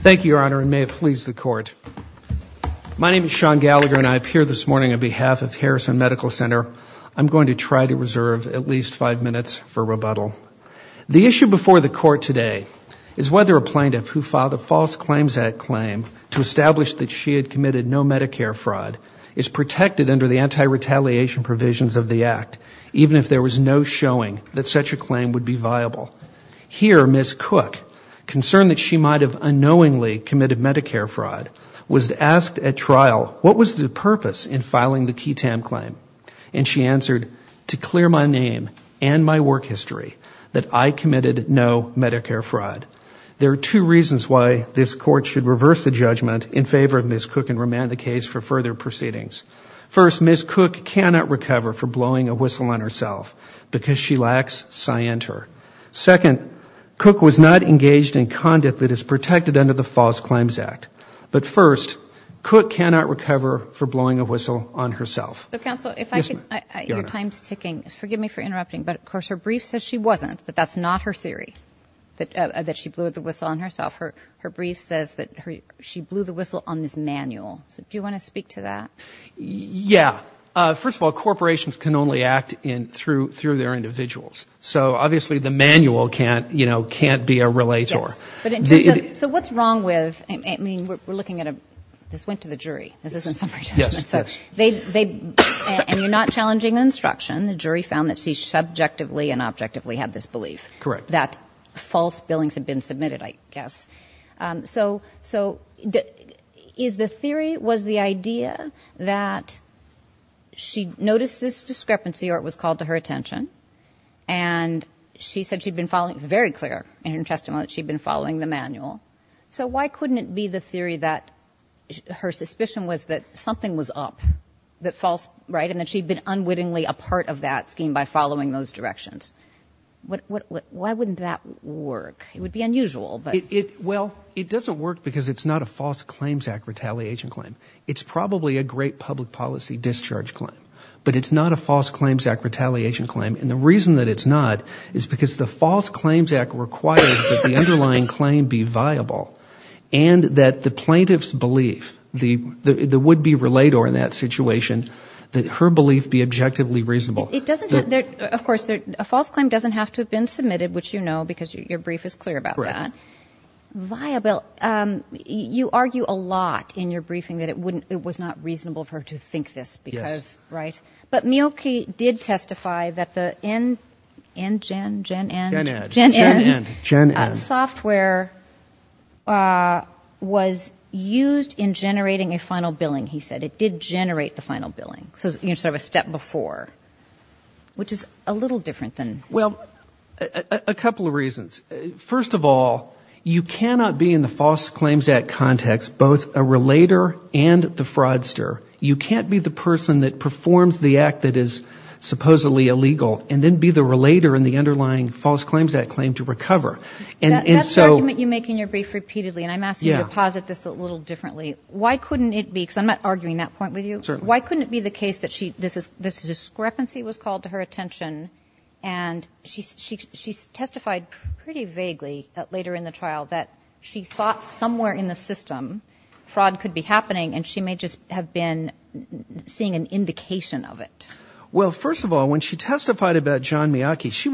Thank you, Your Honor, and may it please the Court. My name is Sean Gallagher and I appear this morning on behalf of Harrison Medical Center. I'm going to try to reserve at least five minutes for rebuttal. The issue before the Court today is whether a plaintiff who filed a False Claims Act claim to establish that she had committed no Medicare fraud is protected under the anti-retaliation provisions of the Act, even if there was no showing that such a claim would be viable. Here, Ms. Cook, concerned that she might have unknowingly committed Medicare fraud, was asked at trial what was the purpose in filing the QTAM claim. And she answered, to clear my name and my work history that I committed no Medicare fraud. There are two reasons why this Court should reverse the judgment in favor of Ms. Cook and remand the case for further proceedings. First, Ms. Cook cannot recover for blowing a whistle on herself because she lacks scienter. Second, Cook was not engaged in conduct that is protected under the False Claims Act. But first, Cook cannot recover for blowing a whistle on herself. Counsel, your time is ticking. Forgive me for interrupting, but of course her brief says she wasn't, that that's not her theory, that she blew the whistle on herself. Her brief says that she blew the whistle on Ms. Manuel. So do you want to speak to that? Yeah. First of all, corporations can only act through their individuals. So obviously the Manuel can't, you know, can't be a relator. Yes. But in terms of, so what's wrong with, I mean, we're looking at a, this went to the jury. This isn't summary judgment. Yes, yes. So they, and you're not challenging an instruction. The jury found that she subjectively and objectively had this belief. Correct. That false billings had been submitted, I guess. So, so is the theory, was the idea that she noticed this discrepancy or it was called to her attention and she said she'd been following, very clear in her testimony that she'd been following the Manuel. So why couldn't it be the theory that her suspicion was that something was up, that false, right, and that she'd been unwittingly a part of that scheme by following those directions? What, what, why wouldn't that work? It would be unusual. Well, it doesn't work because it's not a False Claims Act retaliation claim. It's probably a great public policy discharge claim. But it's not a False Claims Act retaliation claim. And the reason that it's not is because the False Claims Act requires that the underlying claim be viable and that the plaintiff's belief, the would-be relator in that situation, that her belief be objectively reasonable. It doesn't have, of course, a false claim doesn't have to have been submitted, which you know because your brief is clear about that. Okay. Viable. You argue a lot in your briefing that it wouldn't, it was not reasonable for her to think this because, right? Yes. But Mielke did testify that the N, NGen, Gen N? Gen N. Gen N. Gen N. Gen N. Software was used in generating a final billing, he said. It did generate the final billing. So, you know, sort of a step before, which is a little different than. Well, a couple of reasons. First of all, you cannot be in the False Claims Act context both a relator and the fraudster. You can't be the person that performs the act that is supposedly illegal and then be the relator in the underlying False Claims Act claim to recover. And so. That's the argument you make in your brief repeatedly. And I'm asking you to posit this a little differently. Why couldn't it be, because I'm not arguing that point with you. Certainly. Why couldn't it be the case that this discrepancy was called to her attention and she testified pretty vaguely later in the trial that she thought somewhere in the system fraud could be happening and she may just have been seeing an indication of it. Well, first of all, when she testified about John Miyake, she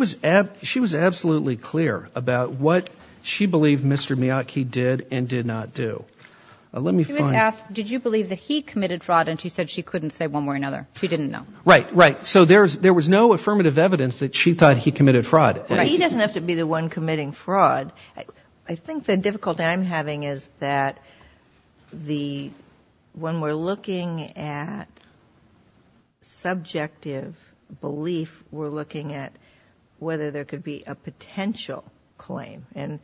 was absolutely clear about what she believed Mr. Miyake did and did not do. She was asked, did you believe that he committed fraud, and she said she couldn't say one way or another. She didn't know. Right, right. So there was no affirmative evidence that she thought he committed fraud. He doesn't have to be the one committing fraud. I think the difficulty I'm having is that when we're looking at subjective belief, we're looking at whether there could be a potential claim. And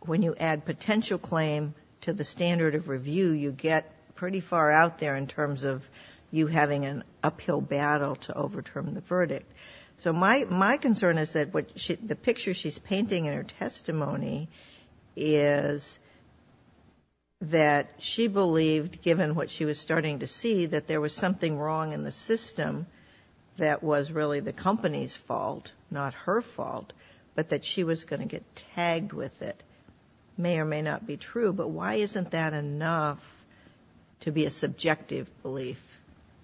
when you add potential claim to the standard of review, you get pretty far out there in terms of you having an uphill battle to overturn the verdict. So my concern is that the picture she's painting in her testimony is that she believed, given what she was starting to see, that there was something wrong in the system that was really the company's fault, not her fault, but that she was going to get tagged with it. That may or may not be true, but why isn't that enough to be a subjective belief?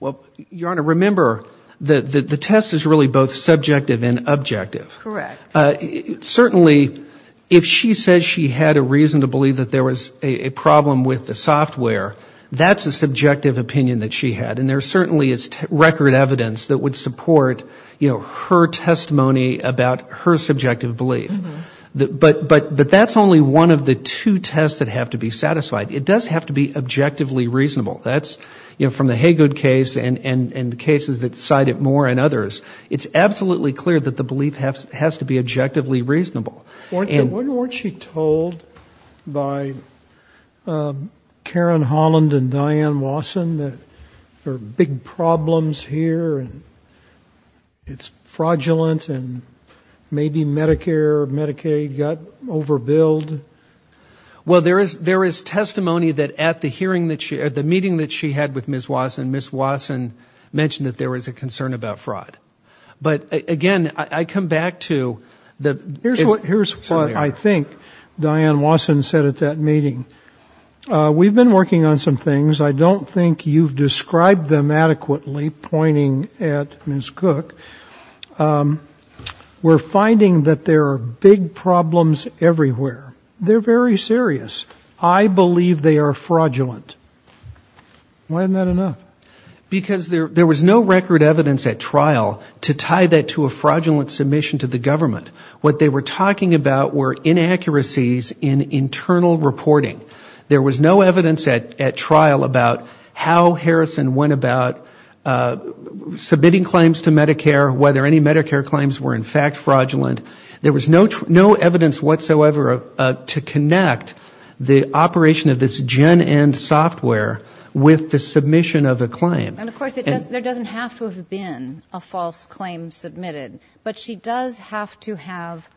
Well, Your Honor, remember, the test is really both subjective and objective. Correct. Certainly, if she says she had a reason to believe that there was a problem with the software, that's a subjective opinion that she had, and there certainly is record evidence that would support, you know, her testimony about her subjective belief. But that's only one of the two tests that have to be satisfied. It does have to be objectively reasonable. That's, you know, from the Haygood case and cases that cite it more and others, it's absolutely clear that the belief has to be objectively reasonable. Weren't you told by Karen Holland and Diane Wasson that there are big problems here and it's fraudulent and maybe Medicare, Medicaid got overbilled? Well, there is testimony that at the meeting that she had with Ms. Wasson, Ms. Wasson mentioned that there was a concern about fraud. But, again, I come back to the – Here's what I think Diane Wasson said at that meeting. We've been working on some things. I don't think you've described them adequately, pointing at Ms. Cook. We're finding that there are big problems everywhere. They're very serious. I believe they are fraudulent. Why isn't that enough? Because there was no record evidence at trial to tie that to a fraudulent submission to the government. What they were talking about were inaccuracies in internal reporting. There was no evidence at trial about how Harrison went about submitting claims to Medicare, whether any Medicare claims were in fact fraudulent. There was no evidence whatsoever to connect the operation of this gen end software with the submission of a claim. And, of course, there doesn't have to have been a false claim submitted. But she does have to have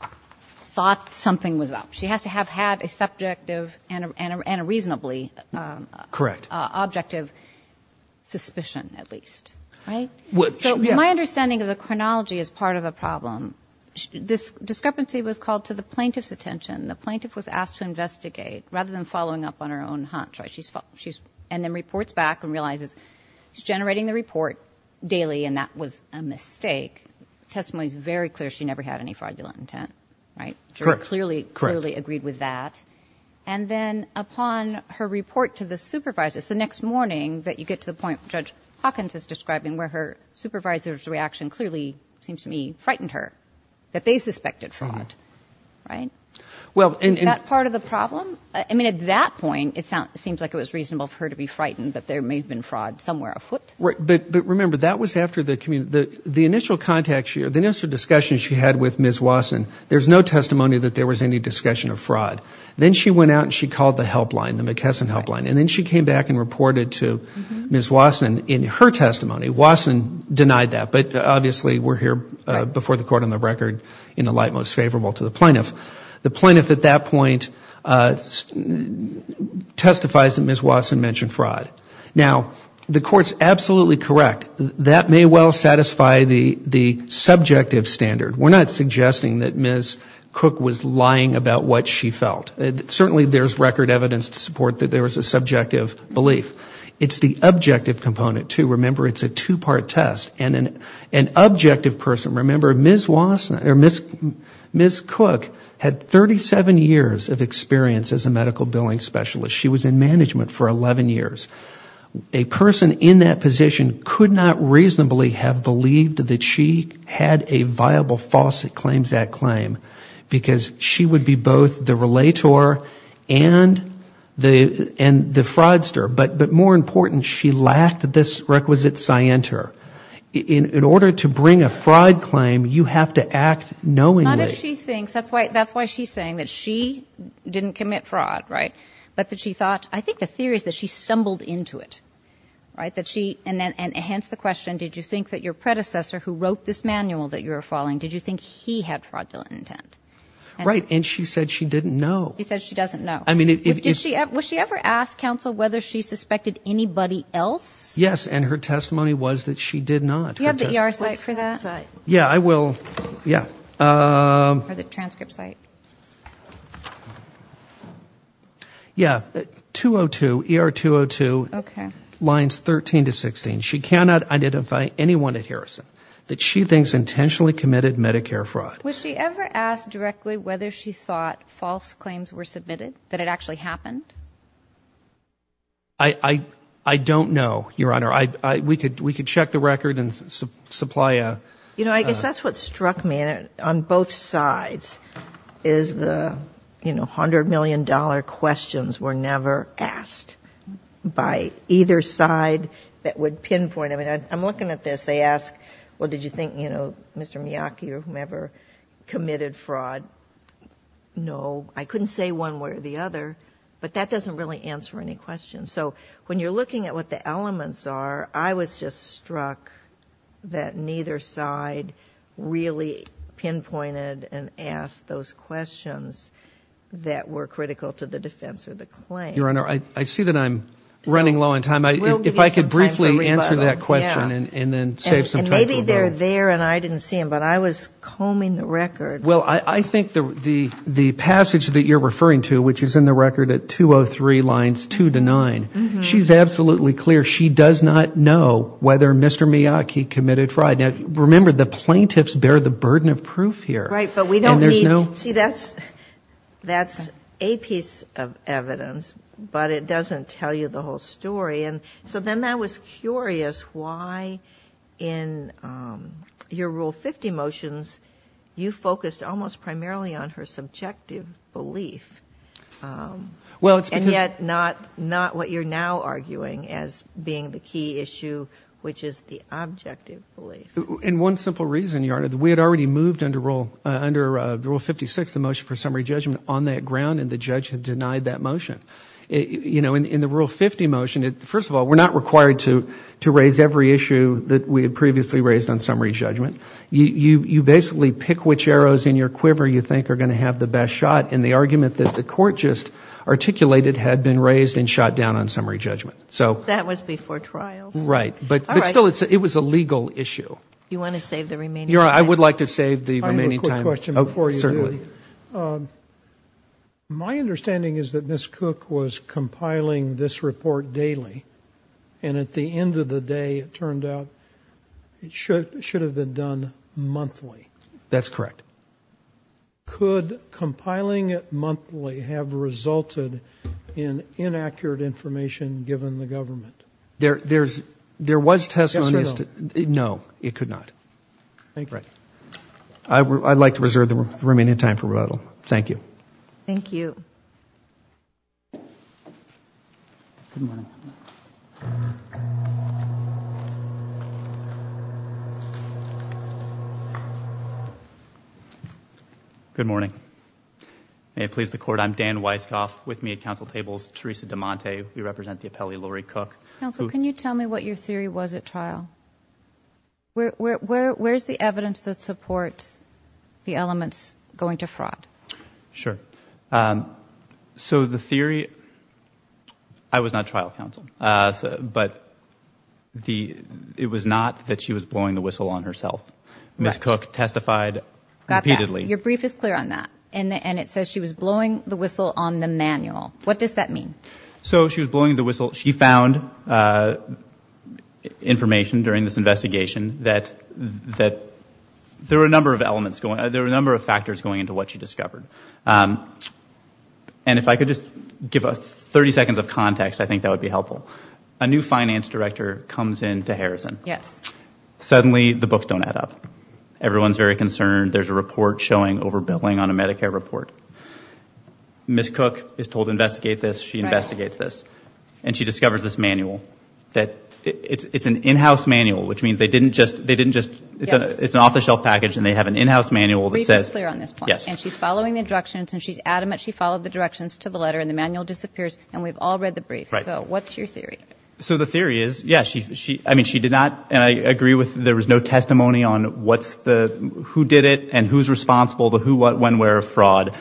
thought something was up. She has to have had a subjective and a reasonably objective suspicion at least. So my understanding of the chronology is part of the problem. This discrepancy was called to the plaintiff's attention. The plaintiff was asked to investigate rather than following up on her own hunch. And then reports back and realizes she's generating the report daily and that was a mistake. The testimony is very clear she never had any fraudulent intent. Clearly agreed with that. And then upon her report to the supervisor, it's the next morning that you get to the point Judge Hawkins is describing where her supervisor's reaction clearly seems to me frightened her, that they suspected fraud. Is that part of the problem? I mean, at that point, it seems like it was reasonable for her to be frightened that there may have been fraud somewhere afoot. But remember, that was after the initial contact, the initial discussion she had with Ms. Wasson. There's no testimony that there was any discussion of fraud. Then she went out and she called the helpline, the McKesson helpline. And then she came back and reported to Ms. Wasson in her testimony. Wasson denied that, but obviously we're here before the court on the record in the light most favorable to the plaintiff. The plaintiff at that point testifies that Ms. Wasson mentioned fraud. Now, the court's absolutely correct. That may well satisfy the subjective standard. We're not suggesting that Ms. Cook was lying about what she felt. Certainly there's record evidence to support that there was a subjective belief. It's the objective component, too. Remember, it's a two-part test. And an objective person, remember, Ms. Cook had 37 years of experience as a medical billing specialist. She was in management for 11 years. A person in that position could not reasonably have believed that she had a viable false claims act claim. Because she would be both the relator and the fraudster. But more important, she lacked this requisite scienter. In order to bring a fraud claim, you have to act knowingly. But not if she thinks, that's why she's saying that she didn't commit fraud, right? But that she thought, I think the theory is that she stumbled into it. And hence the question, did you think that your predecessor who wrote this manual that you were following, did you think he had fraudulent intent? Right, and she said she didn't know. She said she doesn't know. Was she ever asked, counsel, whether she suspected anybody else? Yes, and her testimony was that she did not. Do you have the ER site for that? Yeah, I will, yeah. Or the transcript site. Yeah, 202, ER 202, lines 13 to 16. She cannot identify anyone at Harrison that she thinks intentionally committed Medicare fraud. Was she ever asked directly whether she thought false claims were submitted, that it actually happened? I don't know, Your Honor. We could check the record and supply a... You know, I guess that's what struck me on both sides, is the, you know, $100 million questions were never asked by either side that would pinpoint. I mean, I'm looking at this, they ask, well, did you think, you know, Mr. Miyake or whomever committed fraud? No, I couldn't say one way or the other. But that doesn't really answer any questions. So when you're looking at what the elements are, I was just struck that neither side really pinpointed and asked those questions that were critical to the defense or the claim. Your Honor, I see that I'm running low on time. If I could briefly answer that question and then save some time for a vote. She's absolutely clear she does not know whether Mr. Miyake committed fraud. Now, remember, the plaintiffs bear the burden of proof here. See, that's a piece of evidence, but it doesn't tell you the whole story. And so then I was curious why in your Rule 50 motions you focused almost primarily on her subjective belief. And yet not what you're now arguing as being the key issue, which is the objective belief. And one simple reason, Your Honor, that we had already moved under Rule 56, the motion for summary judgment, on that ground and the judge had denied that motion. In the Rule 50 motion, first of all, we're not required to raise every issue that we had previously raised on summary judgment. You basically pick which arrows in your quiver you think are going to have the best shot. And the argument that the court just articulated had been raised and shot down on summary judgment. That was before trials. You want to save the remaining time? My understanding is that Ms. Cook was compiling this report daily. And at the end of the day, it turned out it should have been done monthly. That's correct. Could compiling it monthly have resulted in inaccurate information given the government? There was testimony. No, it could not. I'd like to reserve the remaining time for rebuttal. Thank you. Good morning. May it please the Court. I'm Dan Weisskopf with me at counsel tables. Theresa DeMonte, we represent the appellee Laurie Cook. Counsel, can you tell me what your theory was at trial? Where's the evidence that supports the elements going to fraud? Sure. So the theory, I was not trial counsel. But it was not that she was blowing the whistle on herself. Ms. Cook testified repeatedly. Your brief is clear on that. And it says she was blowing the whistle on the manual. What does that mean? So she was blowing the whistle. She found information during this investigation that there were a number of elements going on. There were a number of factors going into what she discovered. And if I could just give 30 seconds of context, I think that would be helpful. A new finance director comes in to Harrison. Suddenly the books don't add up. Everyone's very concerned. There's a report showing overbilling on a Medicare report. Ms. Cook is told to investigate this. She investigates this. And she discovers this manual. It's an in-house manual, which means they didn't just, it's an off-the-shelf package and they have an in-house manual that says. And she's following the directions and she's adamant she followed the directions to the letter and the manual disappears and we've all read the brief. So what's your theory? So the theory is, yes, I mean, she did not, and I agree with there was no testimony on who did it and who's responsible, the who, what, when, where of fraud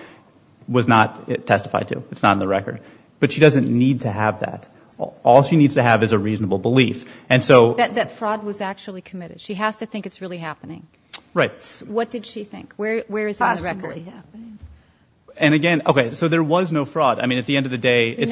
was not testified to. It's not in the record. But she doesn't need to have that. All she needs to have is a reasonable belief. That fraud was actually committed. She has to think it's really happening. Right. What did she think? And again, OK, so there was no fraud. I mean, at the end of the day.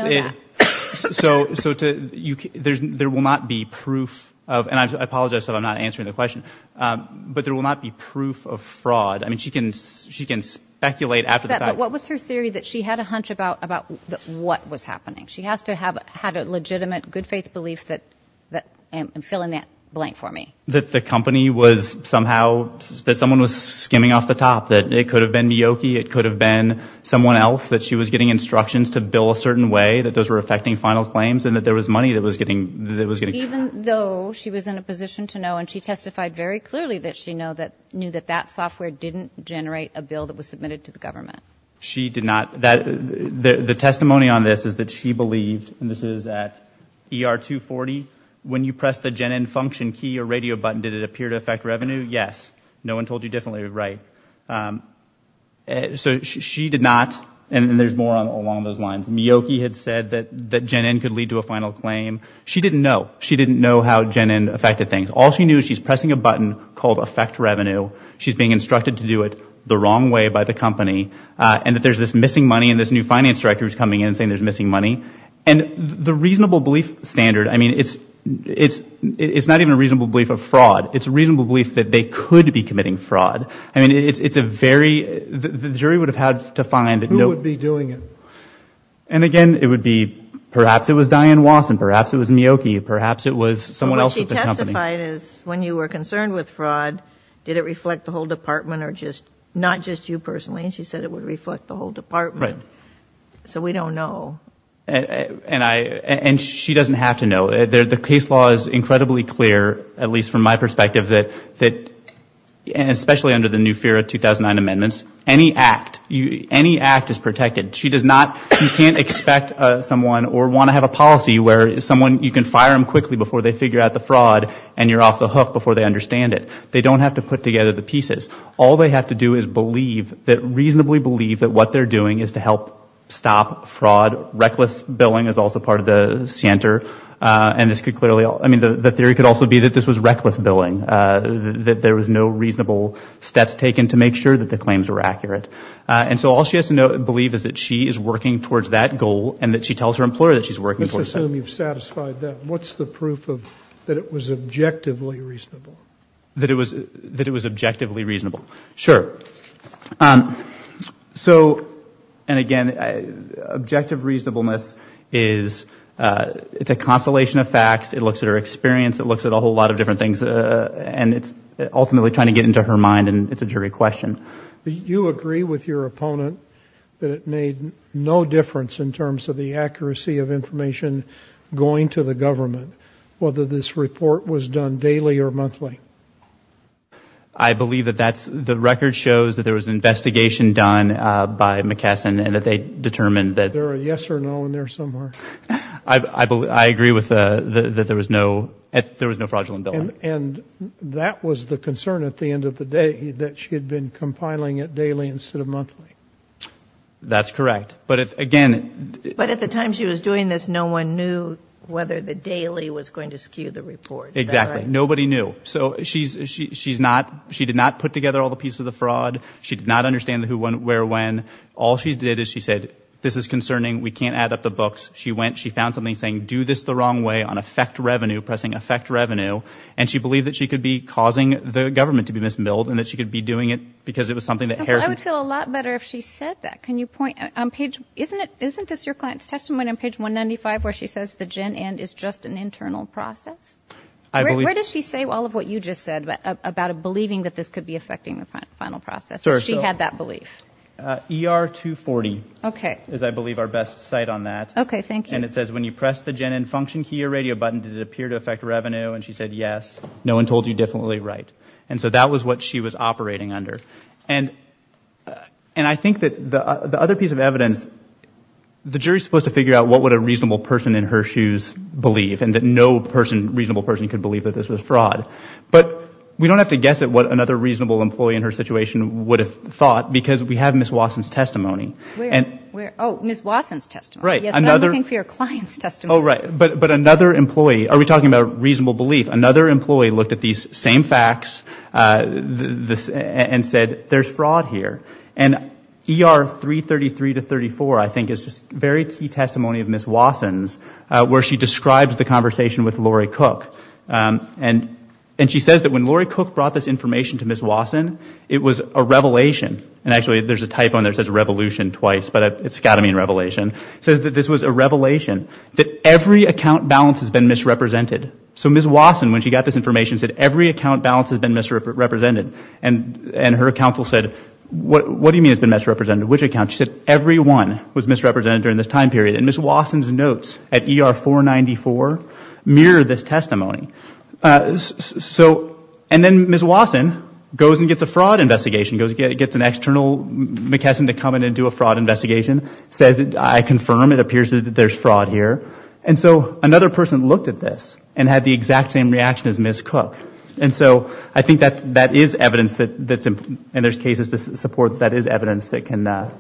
So to you, there's there will not be proof of and I apologize that I'm not answering the question, but there will not be proof of fraud. I mean, she can she can speculate after that. What was her theory that she had a hunch about about what was happening? She has to have had a legitimate good faith belief that that I'm filling that blank for me. That the company was somehow that someone was skimming off the top, that it could have been Miyoki. It could have been someone else that she was getting instructions to bill a certain way that those were affecting final claims and that there was money that was getting that was getting even though she was in a position to know. And she testified very clearly that she know that knew that that software didn't generate a bill that was submitted to the government. She did not. The testimony on this is that she believed and this is at ER 240. When you press the gen and function key or radio button, did it appear to affect revenue? Yes. No one told you differently. Right. So she did not. And there's more along those lines. Miyoki had said that that Jenin could lead to a final claim. She didn't know. She didn't know how Jenin affected things. All she knew, she's pressing a button called affect revenue. She's being instructed to do it the wrong way by the company and that there's this missing money. And this new finance director is coming in and saying there's missing money. And the reasonable belief standard. I mean, it's it's it's not even a reasonable belief of fraud. It's reasonable belief that they could be committing fraud. I mean, it's a very the jury would have had to find it would be doing it. And again, it would be perhaps it was Diane Watson. Perhaps it was Miyoki. Perhaps it was someone else. When you were concerned with fraud, did it reflect the whole department or just not just you personally? And she said it would reflect the whole department. So we don't know. And I and she doesn't have to know that the case law is incredibly clear, at least from my perspective, that that and especially under the new fear of 2009 amendments, any act, any act is protected. She does not. You can't expect someone or want to have a policy where someone you can fire them quickly before they figure out the fraud and you're off the hook before they understand it. They don't have to put together the pieces. All they have to do is believe that reasonably believe that what they're doing is to help stop fraud. Reckless billing is also part of the center. And this could clearly I mean, the theory could also be that this was reckless billing, that there was no reasonable steps taken to make sure that the claims were accurate. And so all she has to know and believe is that she is working towards that goal and that she tells her employer that she's working for you. Satisfied that what's the proof of that? It was objectively reasonable that it was that it was objectively reasonable. Sure. So and again, objective reasonableness is it's a constellation of facts. It looks at her experience, it looks at a whole lot of different things, and it's ultimately trying to get into her mind. And it's a jury question. You agree with your opponent that it made no difference in terms of the accuracy of information going to the government, whether this report was done daily or monthly? I believe that that's the record shows that there was an investigation done by McKesson and that they determined that there are yes or no in there somewhere. I believe I agree with that. There was no there was no fraudulent billing. And that was the concern at the end of the day that she had been compiling it daily instead of monthly. That's correct. But again, but at the time she was doing this, no one knew whether the daily was going to skew the report. Exactly. Nobody knew. So she's she's not she did not put together all the pieces of the fraud. She did not understand who went where when. All she did is she said this is concerning. We can't add up the books. She went she found something saying do this the wrong way on effect revenue, pressing effect revenue. And she believed that she could be causing the government to be misbilled and that she could be doing it because it was something that I would feel a lot better if she said that. Can you point on page isn't it isn't this your client's testimony on page one ninety five where she says the gin and is just an internal process? I believe she say all of what you just said about believing that this could be affecting the final process. She had that belief. E.R. two forty. OK. As I believe our best site on that. OK. Thank you. And it says when you press the gin and function here radio button did appear to affect revenue. And she said yes. No one told you definitely right. And so that was what she was operating under. And and I think that the other piece of evidence the jury supposed to figure out what would a reasonable person in her shoes believe and that no person reasonable person could believe that this was fraud. But we don't have to guess at what another reasonable employee in her situation would have thought because we have Miss Watson's testimony and where Miss Watson's test. Right. I'm looking for your client's test. All right. But but another employee are we talking about reasonable belief. Another employee looked at these same facts and and said there's fraud here. And E.R. three thirty three to thirty four I think is just very key testimony of Miss Watson's where she describes the conversation with Laurie Cook. And and she says that when Laurie Cook brought this information to Miss Watson it was a revelation. And actually there's a type on there says revolution twice but it's got to mean revelation. So this was a revelation that every account balance has been misrepresented. So Miss Watson when she got this information said every account balance has been misrepresented. And and her counsel said what do you mean it's been misrepresented. Which account. She said everyone was misrepresented during this time period. And Miss Watson's notes at E.R. four ninety four mirror this testimony. So and then Miss Watson goes and gets a fraud investigation goes gets an external McKesson to come in and do a fraud investigation. Says I confirm it appears that there's fraud here. And so another person looked at this and had the exact same reaction as Miss Cook. And so I think that that is evidence that that's in there's cases to support that is evidence that can that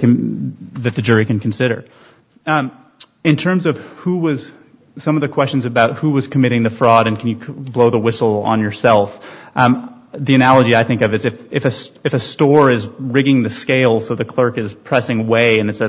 can that the jury can consider. In terms of who was some of the questions about who was committing the fraud and can you blow the whistle on yourself. The way and it's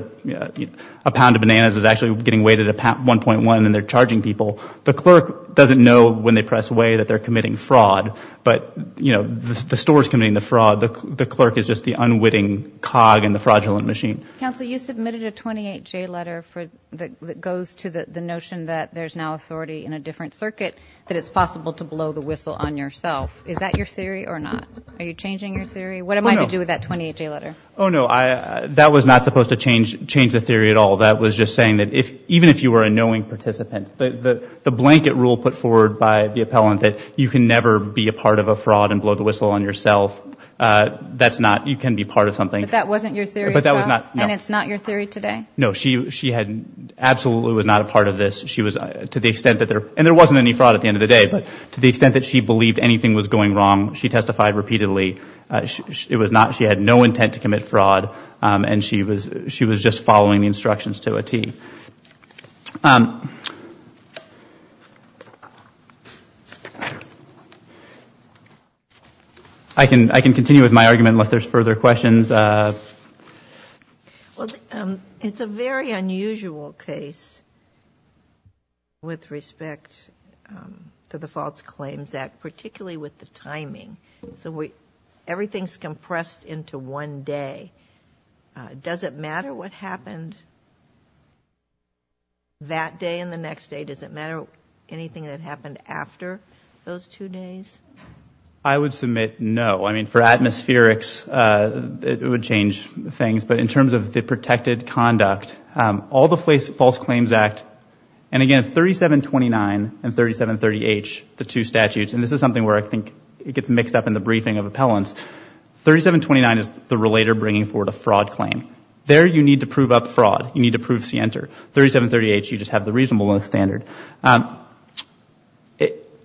a pound of bananas is actually getting weighted at one point one and they're charging people. The clerk doesn't know when they press way that they're committing fraud. But you know the store is committing the fraud. The clerk is just the unwitting cog in the fraudulent machine. So you submitted a twenty eight letter for that goes to the notion that there's now authority in a different circuit that it's possible to blow the whistle on yourself. Is that your theory or not. Are you changing your theory. What am I going to do with that 20 letter. Oh no. That was not supposed to change change the theory at all. That was just saying that if even if you were a knowing participant that the blanket rule put forward by the appellant that you can never be a part of a fraud and blow the whistle on yourself. That's not you can be part of something. That wasn't your theory. But that was not. And it's not your theory today. No she she had absolutely was not a part of this. She was to the side repeatedly. It was not. She had no intent to commit fraud. And she was she was just following the instructions to a T. I can I can continue with my argument unless there's further questions. It's a very unusual case with respect to the False Claims Act particularly with the timing. So everything's compressed into one day. Does it matter what happened that day and the next day. Does it matter anything that happened after those two days. I would submit no. I mean for atmospherics it would change things. But in terms of the 3729 and 3730H the two statutes and this is something where I think it gets mixed up in the briefing of appellants. 3729 is the relator bringing forward a fraud claim. There you need to prove up fraud. You need to prove C enter. 3730H you just have the reasonable standard.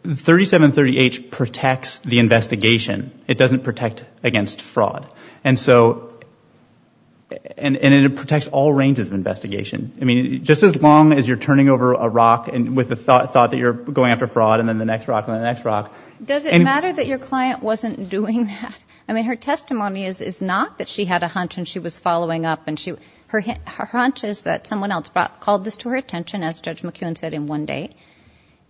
3730H protects the investigation. It doesn't protect against fraud. And so and it protects all ranges of investigation. I mean just as long as you're turning over a rock with the thought that you're going after fraud and then the next rock and the next rock. Does it matter that your client wasn't doing that. I mean her testimony is not that she had a hunch and she was following up and her hunch is that someone else called this to her attention as Judge McEwen said in one day.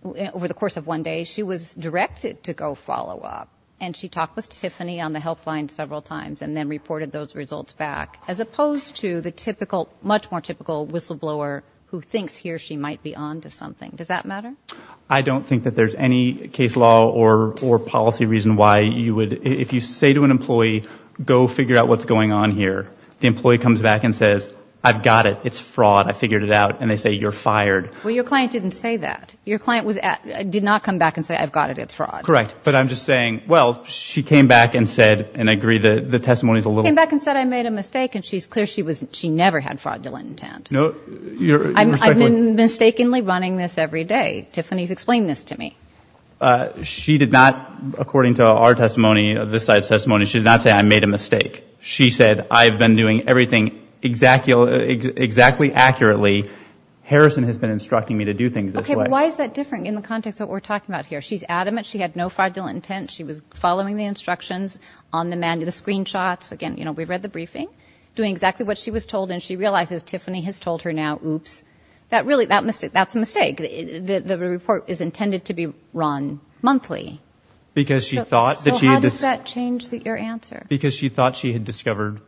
Over the course of one day she was directed to go follow up. And she talked with Tiffany on the helpline several times and then reported those results back as opposed to the typical much more typical whistleblower who thinks he or she might be on to something. Does that matter. I don't think that there's any case law or or policy reason why you would if you say to an employee go figure out what's going on here. The employee comes back and says I've got it. It's fraud. I figured it out. And they say you're fired. Well your client didn't say that. Your client did not come back and say I've got it. It's fraud. Correct. But I'm just saying well she came back and said and I agree that the testimony is a little. Came back and said I made a mistake and she's clear she was she never had fraudulent intent. I've been mistakenly running this every day. Tiffany's explained this to me. She did not according to our testimony of the site's testimony she did not say I made a mistake. She said I've been doing everything exactly exactly accurately. Harrison has been instructing me to do things. Why is that different in the context of what we're talking about here. She's adamant she had no fraudulent intent. She was following the instructions on the man to the screenshots again. You know we've read the briefing doing exactly what she was told and she realizes Tiffany has told her now. Oops that really that mistake. That's a mistake. The report is intended to be run monthly because she thought that she had this change that your answer because she thought she had discovered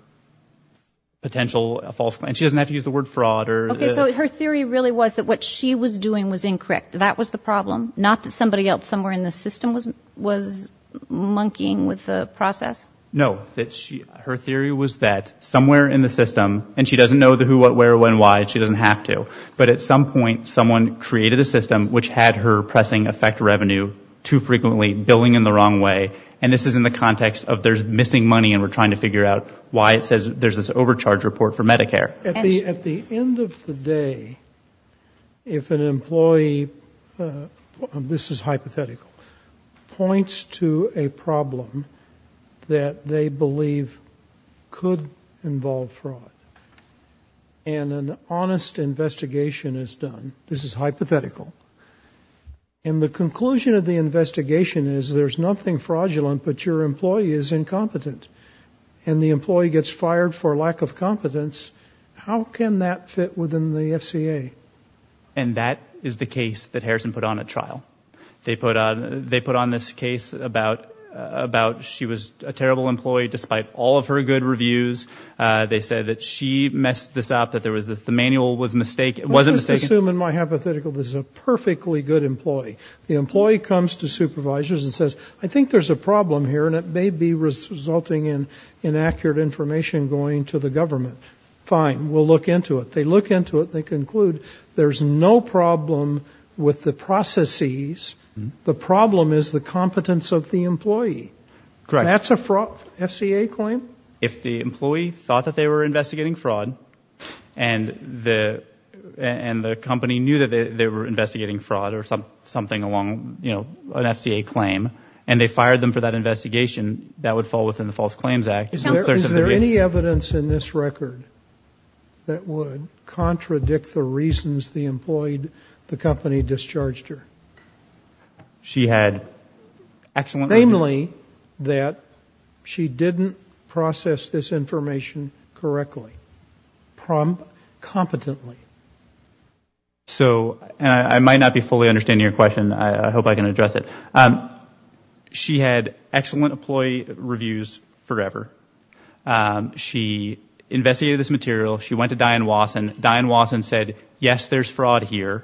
potential false and she doesn't have to use the word fraud or her theory really was that what she was doing was incorrect. That was the problem. Not that somebody else somewhere in the system was was monkeying with the process. No that she her theory was that somewhere in the system and she doesn't know who what where when why she doesn't have to. But at some point someone created a system which had her pressing effect revenue too frequently billing in the wrong way. And this is in the context of there's missing money and we're trying to figure out why it says there's this overcharge report for Medicare. At the end of the day if an employee this is hypothetical points to a problem that they believe could involve fraud and an honest investigation is done. This is hypothetical. And the conclusion of the investigation is there's nothing fraudulent but your employee is incompetent and the employee gets fired for lack of competence. How can that fit within the FCA. And that is the case that Harrison put on a trial. They put on this case about about she was a terrible employee despite all of her good reviews. They said that she messed this up that there was the manual was a mistake. It wasn't assuming my hypothetical is a perfectly good employee. The employee comes to supervisors and says I think there's a problem here and it may be resulting in inaccurate information going to the government. Fine. We'll look into it. They look into it. They conclude there's no problem with the processes. The problem is the competence of the employee. Correct. That's a fraud FCA claim. If the employee thought that they were investigating fraud and the company knew that they were investigating fraud or something along an FCA claim and they fired them for that investigation that would fall within the False Claims Act. Is there any evidence in this record that would contradict the reasons the employee the company discharged her? She had excellent. Namely that she didn't process this information correctly. Competently. So I might not be fully understanding your question. I hope I can address it. She had excellent employee reviews forever. She investigated this material. She went to Dianne Wasson. Dianne Wasson said yes there's fraud here.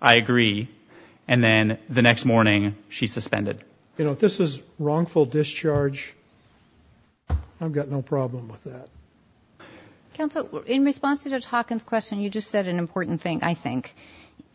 I agree. And then the next morning she suspended. You know if this is wrongful discharge I've got no problem with that. Counsel in response to Judge Hawkins question you just said an important thing I think.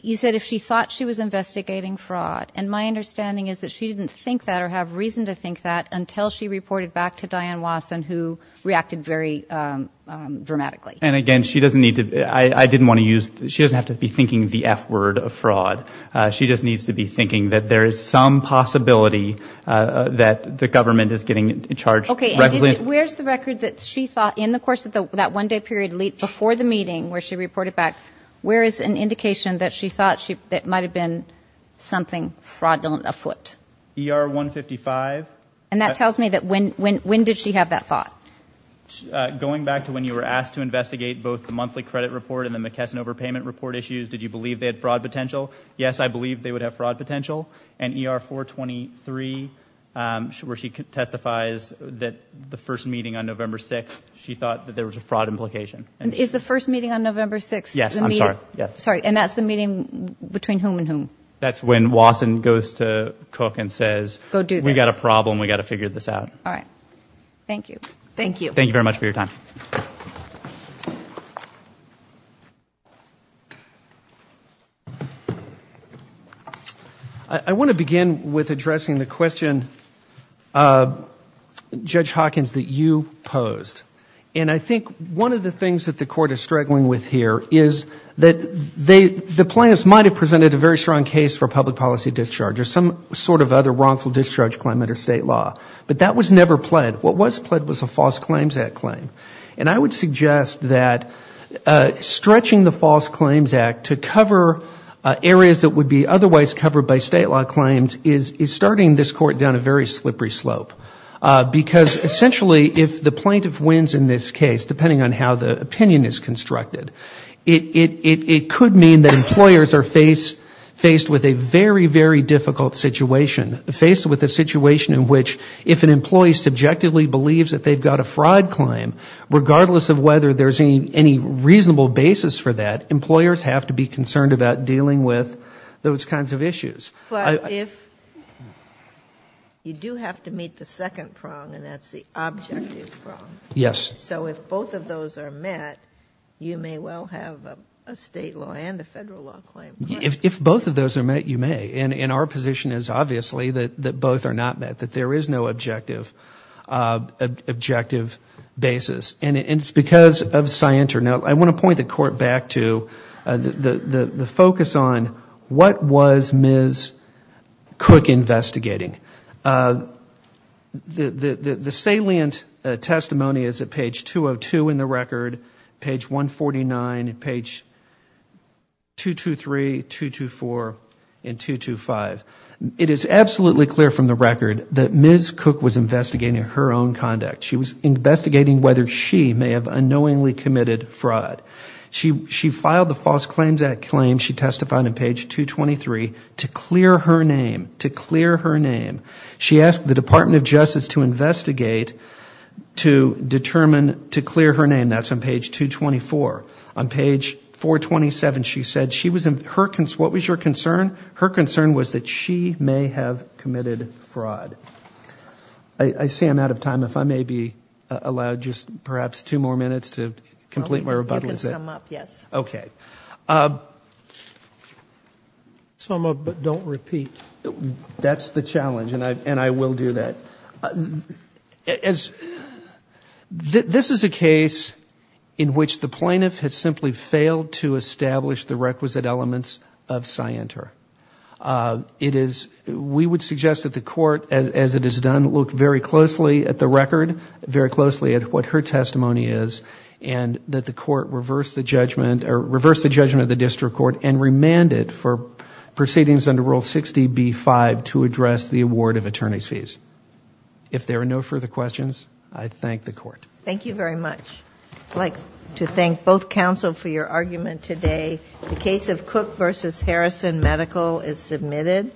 You said if she thought she was investigating fraud and my understanding is that she didn't think that or have reason to think that until she reported back to Dianne Wasson who reacted very dramatically. And again she doesn't need to I didn't want to use she doesn't have to be thinking the F word of fraud. She just needs to be thinking that there is some possibility that the government is getting charged. Okay. Where's the record that she saw in the course of that one day period before the meeting where she reported back where is an indication that she thought that might have been something fraudulent afoot? ER 155. And that tells me that when did she have that thought? Going back to when you were asked to investigate both the monthly credit report and the McKesson overpayment report issues did you believe they had fraud potential? Yes I believe they would have fraud potential. And ER 423 where she testifies that the first meeting on November 6th she thought there was a fraud implication. Is the first meeting on November 6th? Yes I'm sorry. And that's the meeting between whom and whom? That's when Wasson goes to Cook and says we've got a problem we've got to figure this out. All right. Thank you. Thank you. Thank you very much for your time. I want to begin with addressing the question Judge Hawkins that you posed. And I think one of the things that the Court is struggling with here is that the plaintiffs might have presented a very strong case for public policy discharge or some sort of other wrongful discharge claim under State law. But that was never pled. What was pled was a False Claims Act claim. And I would suggest that stretching the False Claims Act to cover areas that would be otherwise covered by State law claims is starting this Court down a very slippery slope. Because essentially if the plaintiff wins in this case, depending on how the opinion is constructed, it could mean that employers are faced with a very, very difficult situation. Faced with a situation in which if an employee subjectively believes that they've got a fraud claim, regardless of whether there's any reasonable basis for that, employers have to be concerned about dealing with those kinds of issues. But if you do have to meet the second prong, and that's the objective prong. Yes. So if both of those are met, you may well have a State law and a Federal law claim. If both of those are met, you may. And our position is obviously that both are not met, that there is no objective basis. And it's because of Scienter. Now, I want to point the Court back to the focus on what was Ms. Cook investigating. The salient testimony is at page 202 in the record, page 149, page 223, 224, and 225. It is absolutely clear from the record that Ms. Cook was investigating her own conduct. She was investigating whether she may have unknowingly committed fraud. She filed the False Claims Act claim, she testified on page 223, to clear her name. She asked the Department of Justice to investigate to determine, to clear her name. That's on page 224. On page 427, she said she was, what was your concern? Her concern was that she may have committed fraud. I see I'm out of time. If I may be allowed just perhaps two more minutes to complete my rebuttal. You can sum up, yes. Sum up, but don't repeat. That's the challenge, and I will do that. This is a case in which the plaintiff has simply failed to establish the requisite elements of Scienter. It is, we would suggest that the court, as it is done, look very closely at the record, very closely at what her testimony is, and that the court reverse the judgment, or reverse the judgment of the district court and remand it for proceedings under Rule 60B-5 to address the award of attorney's fees. If there are no further questions, I thank the court. Thank you very much.